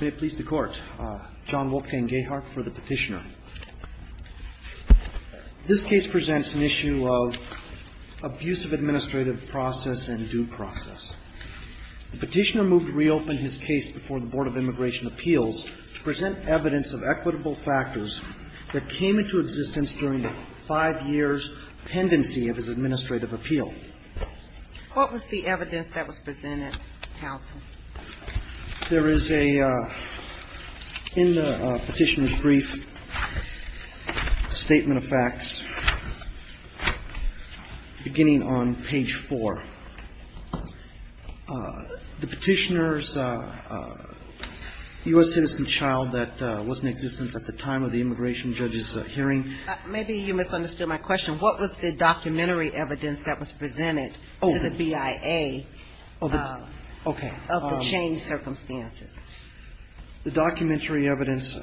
May it please the Court, John Wolfgang Gahart for the petitioner. This case presents an issue of abusive administrative process and due process. The petitioner moved to reopen his case before the Board of Immigration Appeals to present evidence of equitable factors that came into existence during the five years' pendency of his administrative appeal. What was the evidence that was presented, counsel? There is a, in the petitioner's brief, a statement of facts beginning on page 4. The petitioner's U.S. citizen child that was in existence at the time of the immigration judge's hearing Maybe you misunderstood my question. What was the documentary evidence that was presented to the BIA of the changed circumstances? The documentary evidence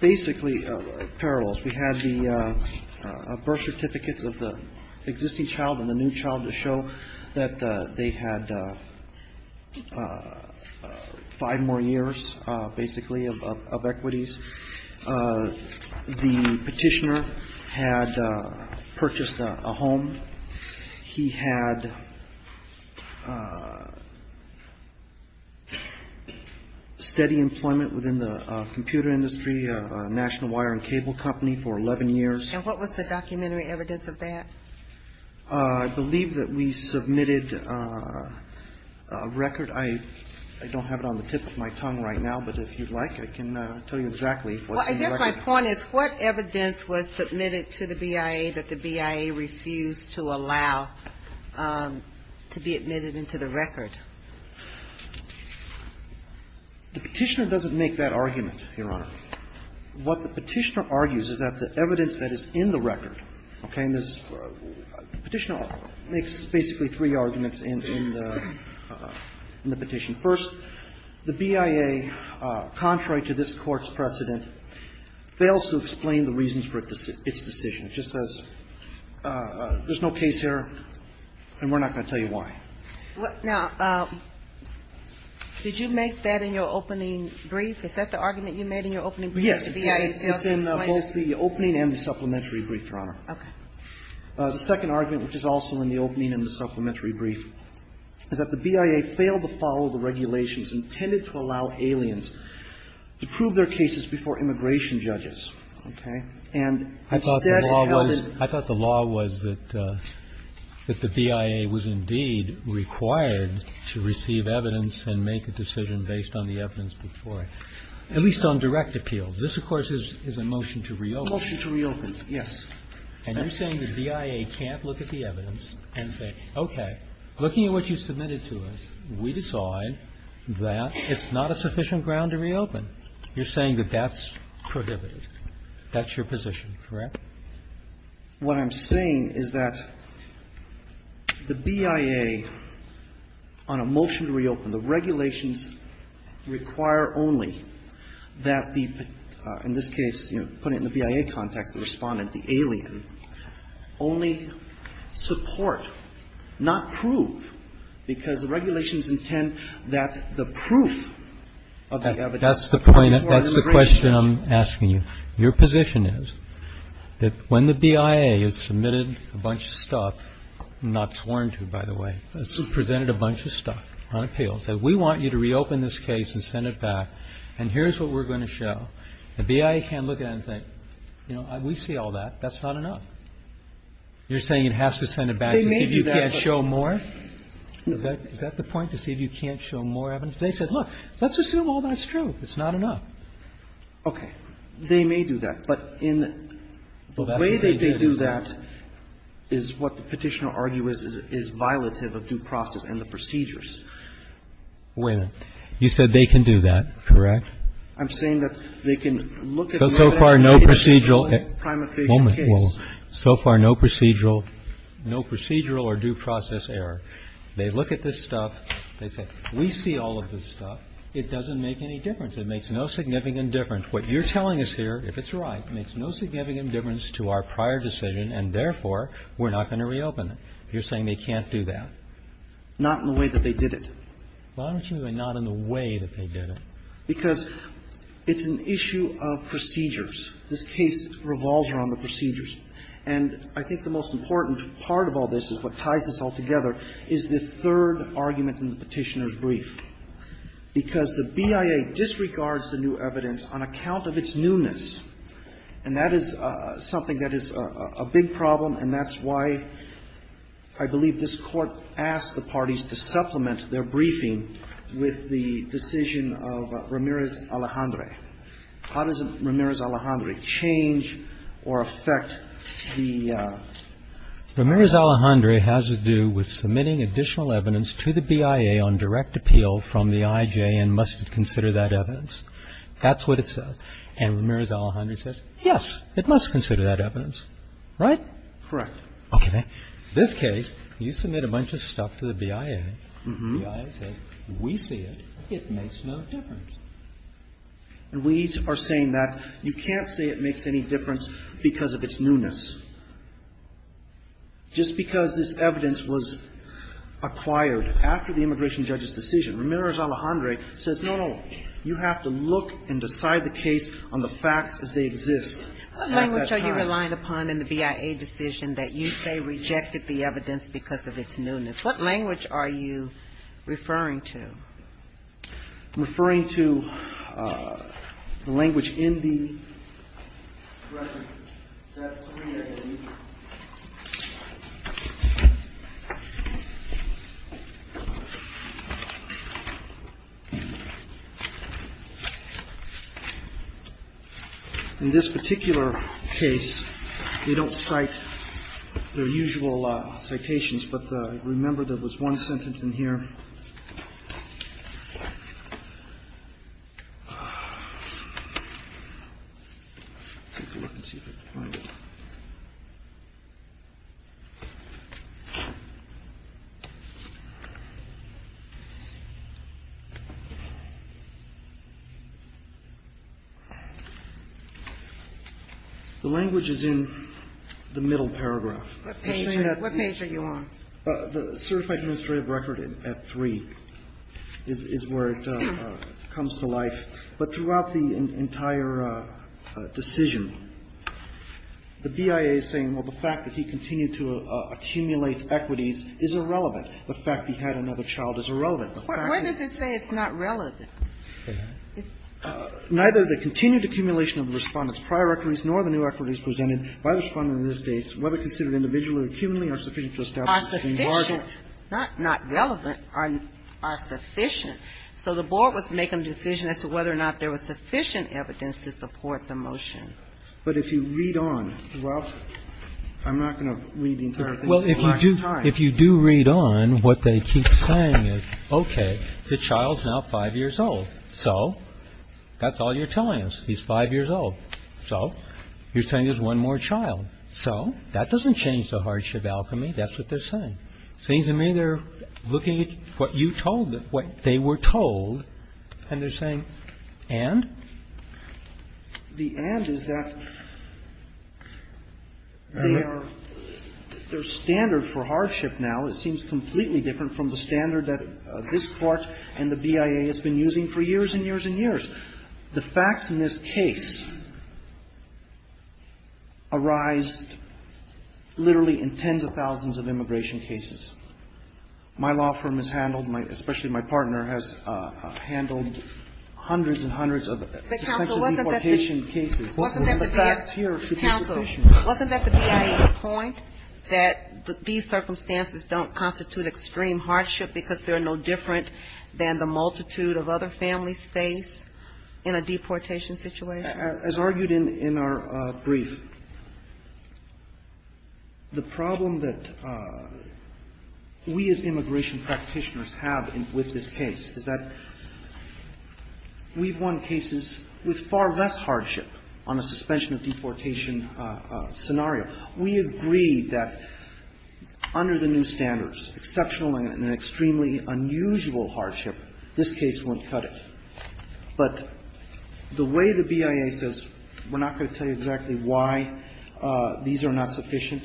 basically parallels. We had the birth certificates of the existing child and the new child to show that they had five more years, basically, of equities. The petitioner had purchased a home. He had steady employment within the computer industry, National Wire and Cable Company, for 11 years. And what was the documentary evidence of that? I believe that we submitted a record. I don't have it on the tip of my tongue right now, but if you'd like, I can tell you exactly what's in the record. Well, I guess my point is what evidence was submitted to the BIA that the BIA refused to allow to be admitted into the record? The petitioner doesn't make that argument, Your Honor. What the petitioner argues is that the evidence that is in the record, okay? The petitioner makes basically three arguments in the petition. First, the BIA, contrary to this Court's precedent, fails to explain the reasons for its decision. It just says there's no case here and we're not going to tell you why. Now, did you make that in your opening brief? Is that the argument you made in your opening brief? Yes, it's in both the opening and the supplementary brief, Your Honor. Okay. The second argument, which is also in the opening and the supplementary brief, is that the BIA failed to follow the regulations intended to allow aliens to prove their cases before immigration judges, okay? And instead, it happened to the BIA. I thought the law was that the BIA was indeed required to receive evidence and make a decision based on the evidence before, at least on direct appeal. This, of course, is a motion to reopen. Motion to reopen, yes. And you're saying the BIA can't look at the evidence and say, okay, looking at what you submitted to us, we decide that it's not a sufficient ground to reopen. You're saying that that's prohibited. That's your position, correct? What I'm saying is that the BIA, on a motion to reopen, the regulations require only that the, in this case, you know, putting it in the BIA context, the Respondent, the alien, only support, not prove, because the regulations intend that the proof of the evidence before an immigration judge. That's the point. That's the question I'm asking you. Your position is that when the BIA has submitted a bunch of stuff, not sworn to, by the way, presented a bunch of stuff on appeal, said we want you to reopen this case and send it back, and here's what we're going to show. The BIA can't look at it and think, you know, we see all that. That's not enough. You're saying it has to send it back to see if you can't show more? Is that the point, to see if you can't show more evidence? They said, look, let's assume all that's true. It's not enough. Okay. They may do that. But in the way that they do that is what the Petitioner argues is violative of due process and the procedures. Wait a minute. You said they can do that, correct? I'm saying that they can look at no procedural case. So far, no procedural. No procedural or due process error. They look at this stuff. They say, we see all of this stuff. It doesn't make any difference. It makes no significant difference. What you're telling us here, if it's right, makes no significant difference to our prior decision, and therefore, we're not going to reopen it. You're saying they can't do that? Not in the way that they did it. Why don't you say not in the way that they did it? Because it's an issue of procedures. This case revolves around the procedures. And I think the most important part of all this is what ties this all together is the third argument in the Petitioner's brief. Because the BIA disregards the new evidence on account of its newness. And that is something that is a big problem, and that's why I believe this Court asked the parties to supplement their briefing with the decision of Ramirez-Alejandre. How does Ramirez-Alejandre change or affect the ---- Ramirez-Alejandre has to do with submitting additional evidence to the BIA on direct appeal from the IJ and must consider that evidence. That's what it says. And Ramirez-Alejandre says, yes, it must consider that evidence. Right? Correct. Okay. This case, you submit a bunch of stuff to the BIA. The BIA says, we see it, it makes no difference. And we are saying that you can't say it makes any difference because of its newness. Just because this evidence was acquired after the immigration judge's decision, Ramirez-Alejandre says, no, no, you have to look and decide the case on the facts as they exist. What language are you relying upon in the BIA decision that you say rejected the evidence because of its newness? What language are you referring to? I'm referring to the language in the ---- In this particular case, they don't cite their usual citations, but remember there was one sentence in here. Let's see if I can find it. The language is in the middle paragraph. What page are you on? The certified administrative record at 3 is where it comes to life. The BIA is saying, well, the fact that he continued to accumulate equities is irrelevant. The fact that he had another child is irrelevant. The fact is ---- When does it say it's not relevant? It's ---- Neither the continued accumulation of the Respondent's prior equities nor the new equities presented by the Respondent in this case, whether considered individually or cumulatively, are sufficient to establish a margin ---- Are sufficient, not relevant, are sufficient. So the board was making a decision as to whether or not there was sufficient evidence to support the motion. But if you read on, well, I'm not going to read the entire thing at one time. Well, if you do read on, what they keep saying is, okay, the child's now five years old. So that's all you're telling us. He's five years old. So you're saying there's one more child. So that doesn't change the hardship alchemy. That's what they're saying. It seems to me they're looking at what you told them, what they were told, and they're saying, and? The and is that they are ---- They're standard for hardship now. It seems completely different from the standard that this Court and the BIA has been using for years and years and years. The facts in this case arise literally in tens of thousands of immigration cases. My law firm has handled, especially my partner, has handled hundreds and hundreds of suspenseful deportation cases. The facts here should be sufficient. Counsel, wasn't that the BIA's point that these circumstances don't constitute extreme hardship because they're no different than the multitude of other families face in a deportation situation? As argued in our brief, the problem that we as immigration practitioners have with this case is that we've won cases with far less hardship on a suspension of deportation scenario. We agree that under the new standards, exceptional and extremely unusual hardship, this case wouldn't cut it. But the way the BIA says, we're not going to tell you exactly why these are not sufficient,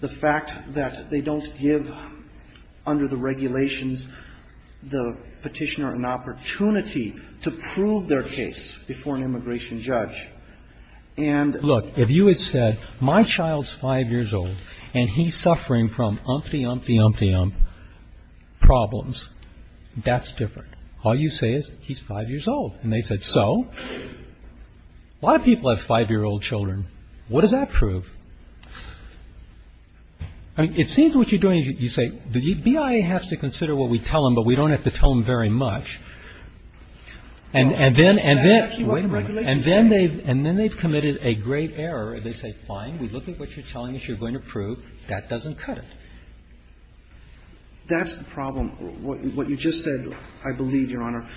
the fact that they don't give, under the regulations, the Petitioner an opportunity to prove their case before an immigration judge, and ---- And he's suffering from umpty, umpty, umpty, ump problems. That's different. All you say is he's five years old. And they said, so? A lot of people have five-year-old children. What does that prove? I mean, it seems what you're doing is you say, the BIA has to consider what we tell them, but we don't have to tell them very much. And then they've committed a grave error. They say, fine, we look at what you're telling us you're going to prove. That doesn't cut it. That's the problem. What you just said, I believe, Your Honor,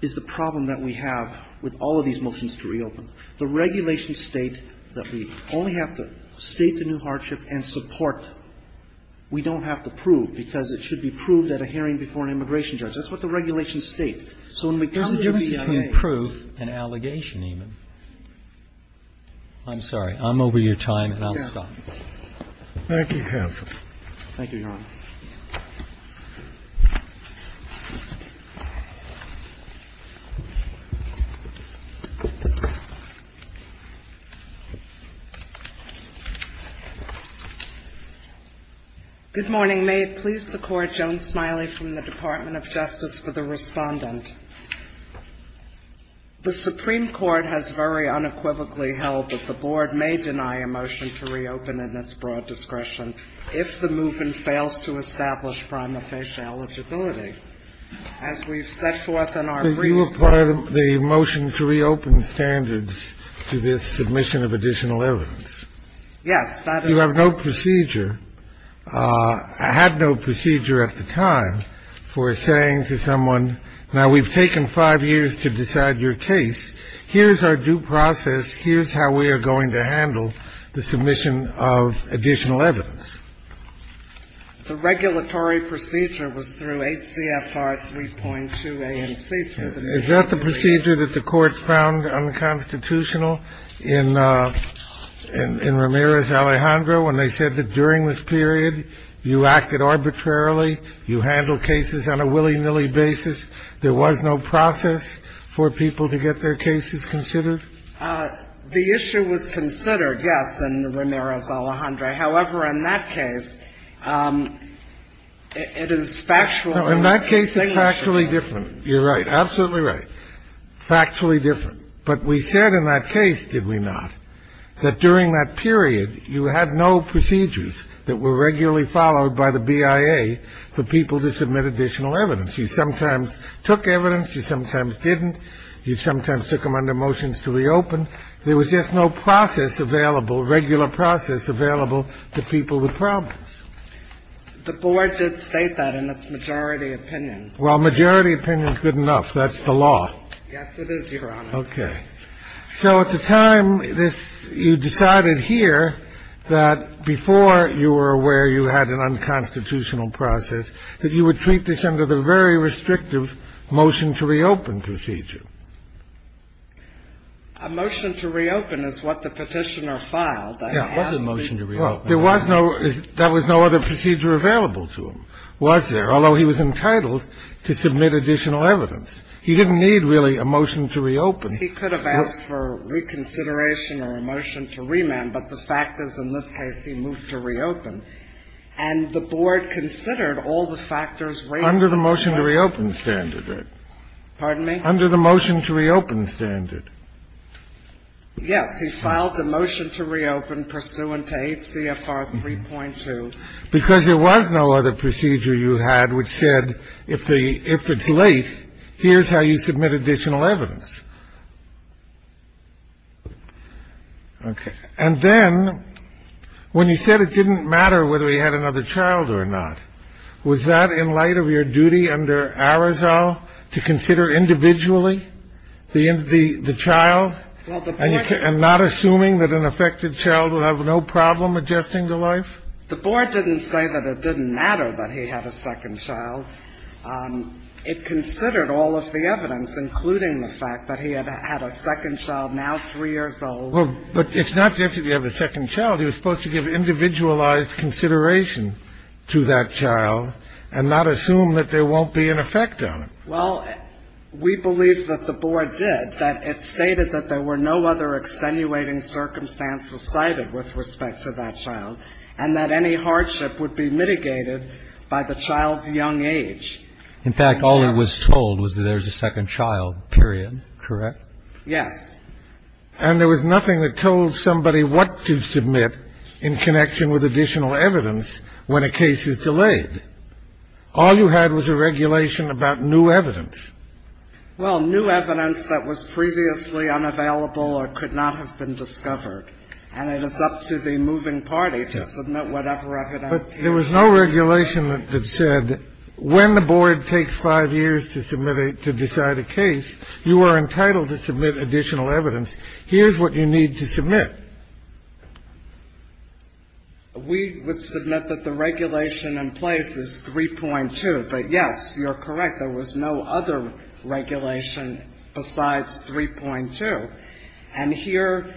is the problem that we have with all of these motions to reopen, the regulations state that we only have to state the new hardship and support. We don't have to prove, because it should be proved at a hearing before an immigration That's what the regulations state. So when we go to the BIA ---- You can prove an allegation even. I'm sorry. I'm over your time, and I'll stop. Thank you, counsel. Thank you, Your Honor. Good morning. May it please the Court, Joan Smiley from the Department of Justice for the Respondent. The Supreme Court has very unequivocally held that the Board may deny a motion to reopen in its broad discretion if the move-in fails to establish prima facie eligibility. As we've set forth in our brief ---- So you apply the motion to reopen standards to this submission of additional evidence? Yes. You have no procedure, had no procedure at the time for saying to someone, now, we've taken five years to decide your case. Here's our due process. Here's how we are going to handle the submission of additional evidence. The regulatory procedure was through 8 CFR 3.2 ANC. Is that the procedure that the Court found unconstitutional in Ramirez Alejandro when they said that during this period you acted arbitrarily, you handled cases on a willy-nilly basis? There was no process for people to get their cases considered? The issue was considered, yes, in Ramirez Alejandro. However, in that case, it is factually ---- In that case, it's factually different. You're right. Absolutely right. Factually different. But we said in that case, did we not, that during that period, you had no procedures that were regularly followed by the BIA for people to submit additional evidence. You sometimes took evidence. You sometimes didn't. You sometimes took them under motions to reopen. There was just no process available, regular process available to people with problems. The Board did state that in its majority opinion. Well, majority opinion is good enough. That's the law. Yes, it is, Your Honor. Okay. So at the time, you decided here that before you were aware you had an unconstitutional process, that you would treat this under the very restrictive motion to reopen procedure. A motion to reopen is what the Petitioner filed. Yes. It was a motion to reopen. Well, there was no ---- that was no other procedure available to him, was there, although he was entitled to submit additional evidence. He didn't need, really, a motion to reopen. He could have asked for reconsideration or a motion to remand. But the fact is, in this case, he moved to reopen. And the Board considered all the factors ---- Under the motion to reopen standard. Pardon me? Under the motion to reopen standard. Yes. He filed a motion to reopen pursuant to 8 CFR 3.2. Because there was no other procedure you had which said if the ---- if it's late, here's how you submit additional evidence. Okay. And then, when you said it didn't matter whether he had another child or not, was that in light of your duty under Arizal to consider individually the child and not assuming that an affected child would have no problem adjusting to life? The Board didn't say that it didn't matter that he had a second child. So it considered all of the evidence, including the fact that he had a second child, now 3 years old. Well, but it's not just that you have a second child. He was supposed to give individualized consideration to that child and not assume that there won't be an effect on him. Well, we believe that the Board did, that it stated that there were no other extenuating circumstances cited with respect to that child, and that any hardship would be mitigated by the child's young age. In fact, all that was told was that there was a second child, period. Correct? Yes. And there was nothing that told somebody what to submit in connection with additional evidence when a case is delayed. All you had was a regulation about new evidence. Well, new evidence that was previously unavailable or could not have been discovered. And it is up to the moving party to submit whatever evidence. But there was no regulation that said when the Board takes 5 years to decide a case, you are entitled to submit additional evidence. Here's what you need to submit. We would submit that the regulation in place is 3.2. But, yes, you're correct. There was no other regulation besides 3.2. And here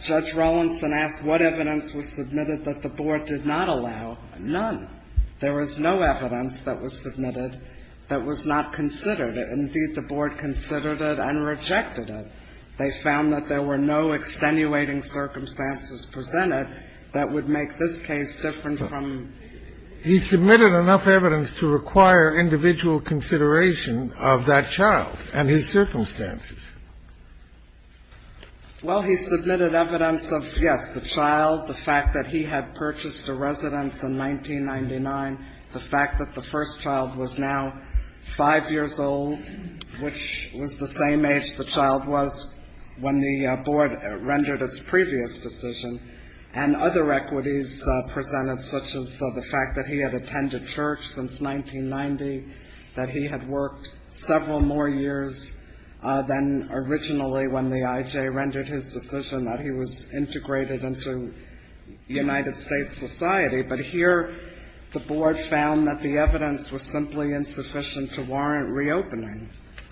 Judge Rawlinson asked what evidence was submitted that the Board did not allow. None. There was no evidence that was submitted that was not considered. Indeed, the Board considered it and rejected it. They found that there were no extenuating circumstances presented that would make this case different from the other. He submitted enough evidence to require individual consideration of that child and his circumstances. Well, he submitted evidence of, yes, the child, the fact that he had purchased a residence in 1999, the fact that the first child was now 5 years old, which was the same age the child was when the Board rendered its previous decision, and other equities presented, such as the fact that he had attended church since 1990, that he had worked several more years than originally when the IJ rendered his decision, that he was integrated into United States society. But here the Board found that the evidence was simply insufficient to warrant reopening.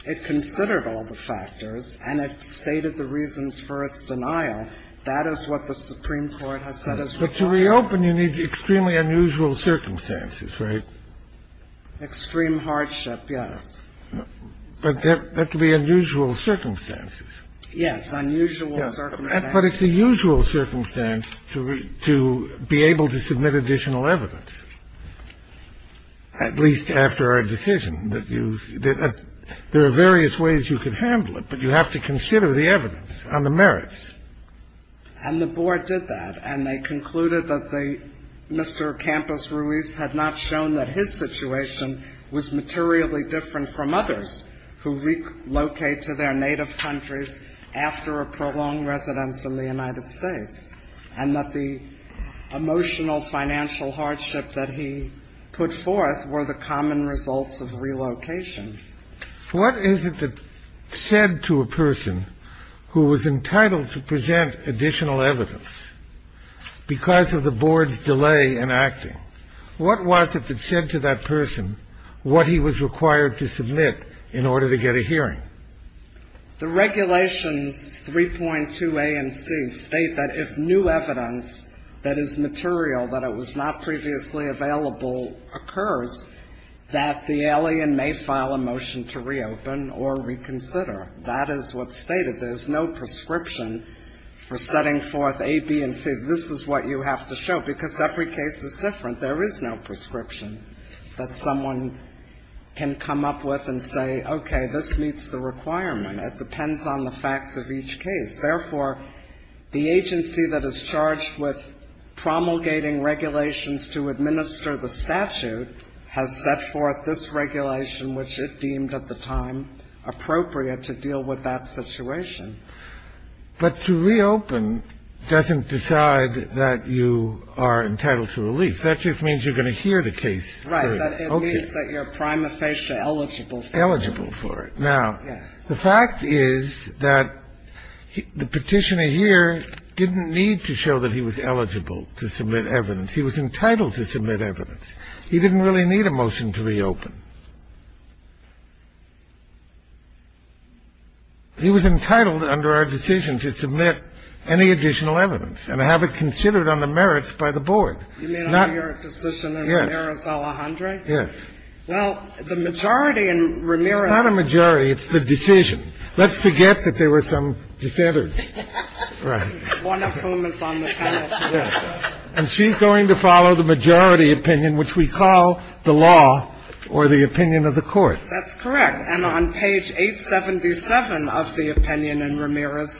It considered all the factors and it stated the reasons for its denial. That is what the Supreme Court has said is right. But to reopen, you need extremely unusual circumstances, right? Extreme hardship, yes. But that could be unusual circumstances. Yes, unusual circumstances. But it's a usual circumstance to be able to submit additional evidence, at least after a decision. There are various ways you could handle it, but you have to consider the evidence and the merits. And the Board did that, and they concluded that Mr. Campos Ruiz had not shown that his situation was materially different from others who relocate to their native countries after a prolonged residence in the United States, and that the emotional financial hardship that he put forth were the common results of relocation. What is it that said to a person who was entitled to present additional evidence, because of the Board's delay in acting, what was it that said to that person what he was required to submit in order to get a hearing? The regulations 3.2 A and C state that if new evidence that is material, that it was not previously available, occurs, that the alien may file a motion to reopen or reconsider. That is what's stated. There's no prescription for setting forth A, B, and C. This is what you have to show, because every case is different. There is no prescription that someone can come up with and say, okay, this meets the requirement. It depends on the facts of each case. Therefore, the agency that is charged with promulgating regulations to administer the statute has set forth this regulation, which it deemed at the time appropriate to deal with that situation. But to reopen doesn't decide that you are entitled to relief. That just means you're going to hear the case. Right. It means that you're prima facie eligible for it. Eligible for it. Yes. The fact is that the Petitioner here didn't need to show that he was eligible to submit evidence. He was entitled to submit evidence. He didn't really need a motion to reopen. He was entitled under our decision to submit any additional evidence and have it considered under merits by the board. You mean under your decision in Ramirez, Alejandre? Yes. Well, the majority in Ramirez. It's not a majority. It's the decision. Let's forget that there were some dissenters. Right. One of whom is on the panel today. And she's going to follow the majority opinion, which we call the law or the opinion of the Court. That's correct. And on page 877 of the opinion in Ramirez,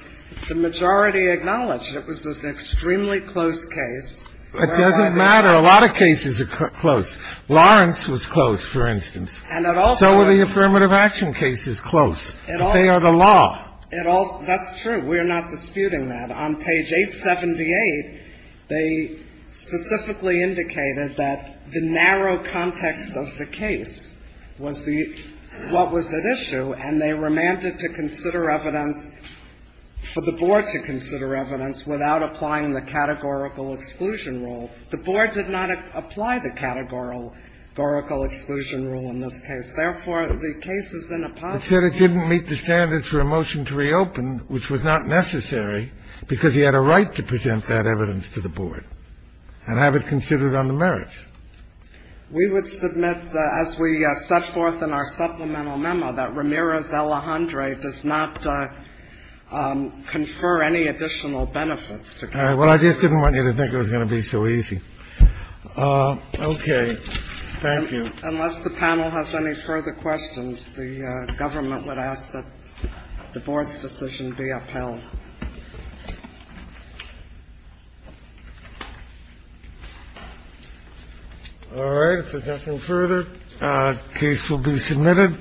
the majority acknowledged it was an extremely close case. It doesn't matter. A lot of cases are close. Lawrence was close, for instance. So were the affirmative action cases close. They are the law. That's true. We are not disputing that. On page 878, they specifically indicated that the narrow context of the case was the what was at issue, and they remanded to consider evidence for the board to consider evidence without applying the categorical exclusion rule. The board did not apply the categorical exclusion rule in this case. Therefore, the case is in a position. It said it didn't meet the standards for a motion to reopen, which was not necessary, because he had a right to present that evidence to the board and have it considered on the merits. We would submit, as we set forth in our supplemental memo, that Ramirez, Alejandre does not confer any additional benefits. All right. Well, I just didn't want you to think it was going to be so easy. Okay. Thank you. Unless the panel has any further questions, the government would ask that the board's decision be upheld. All right. If there's nothing further, the case will be submitted.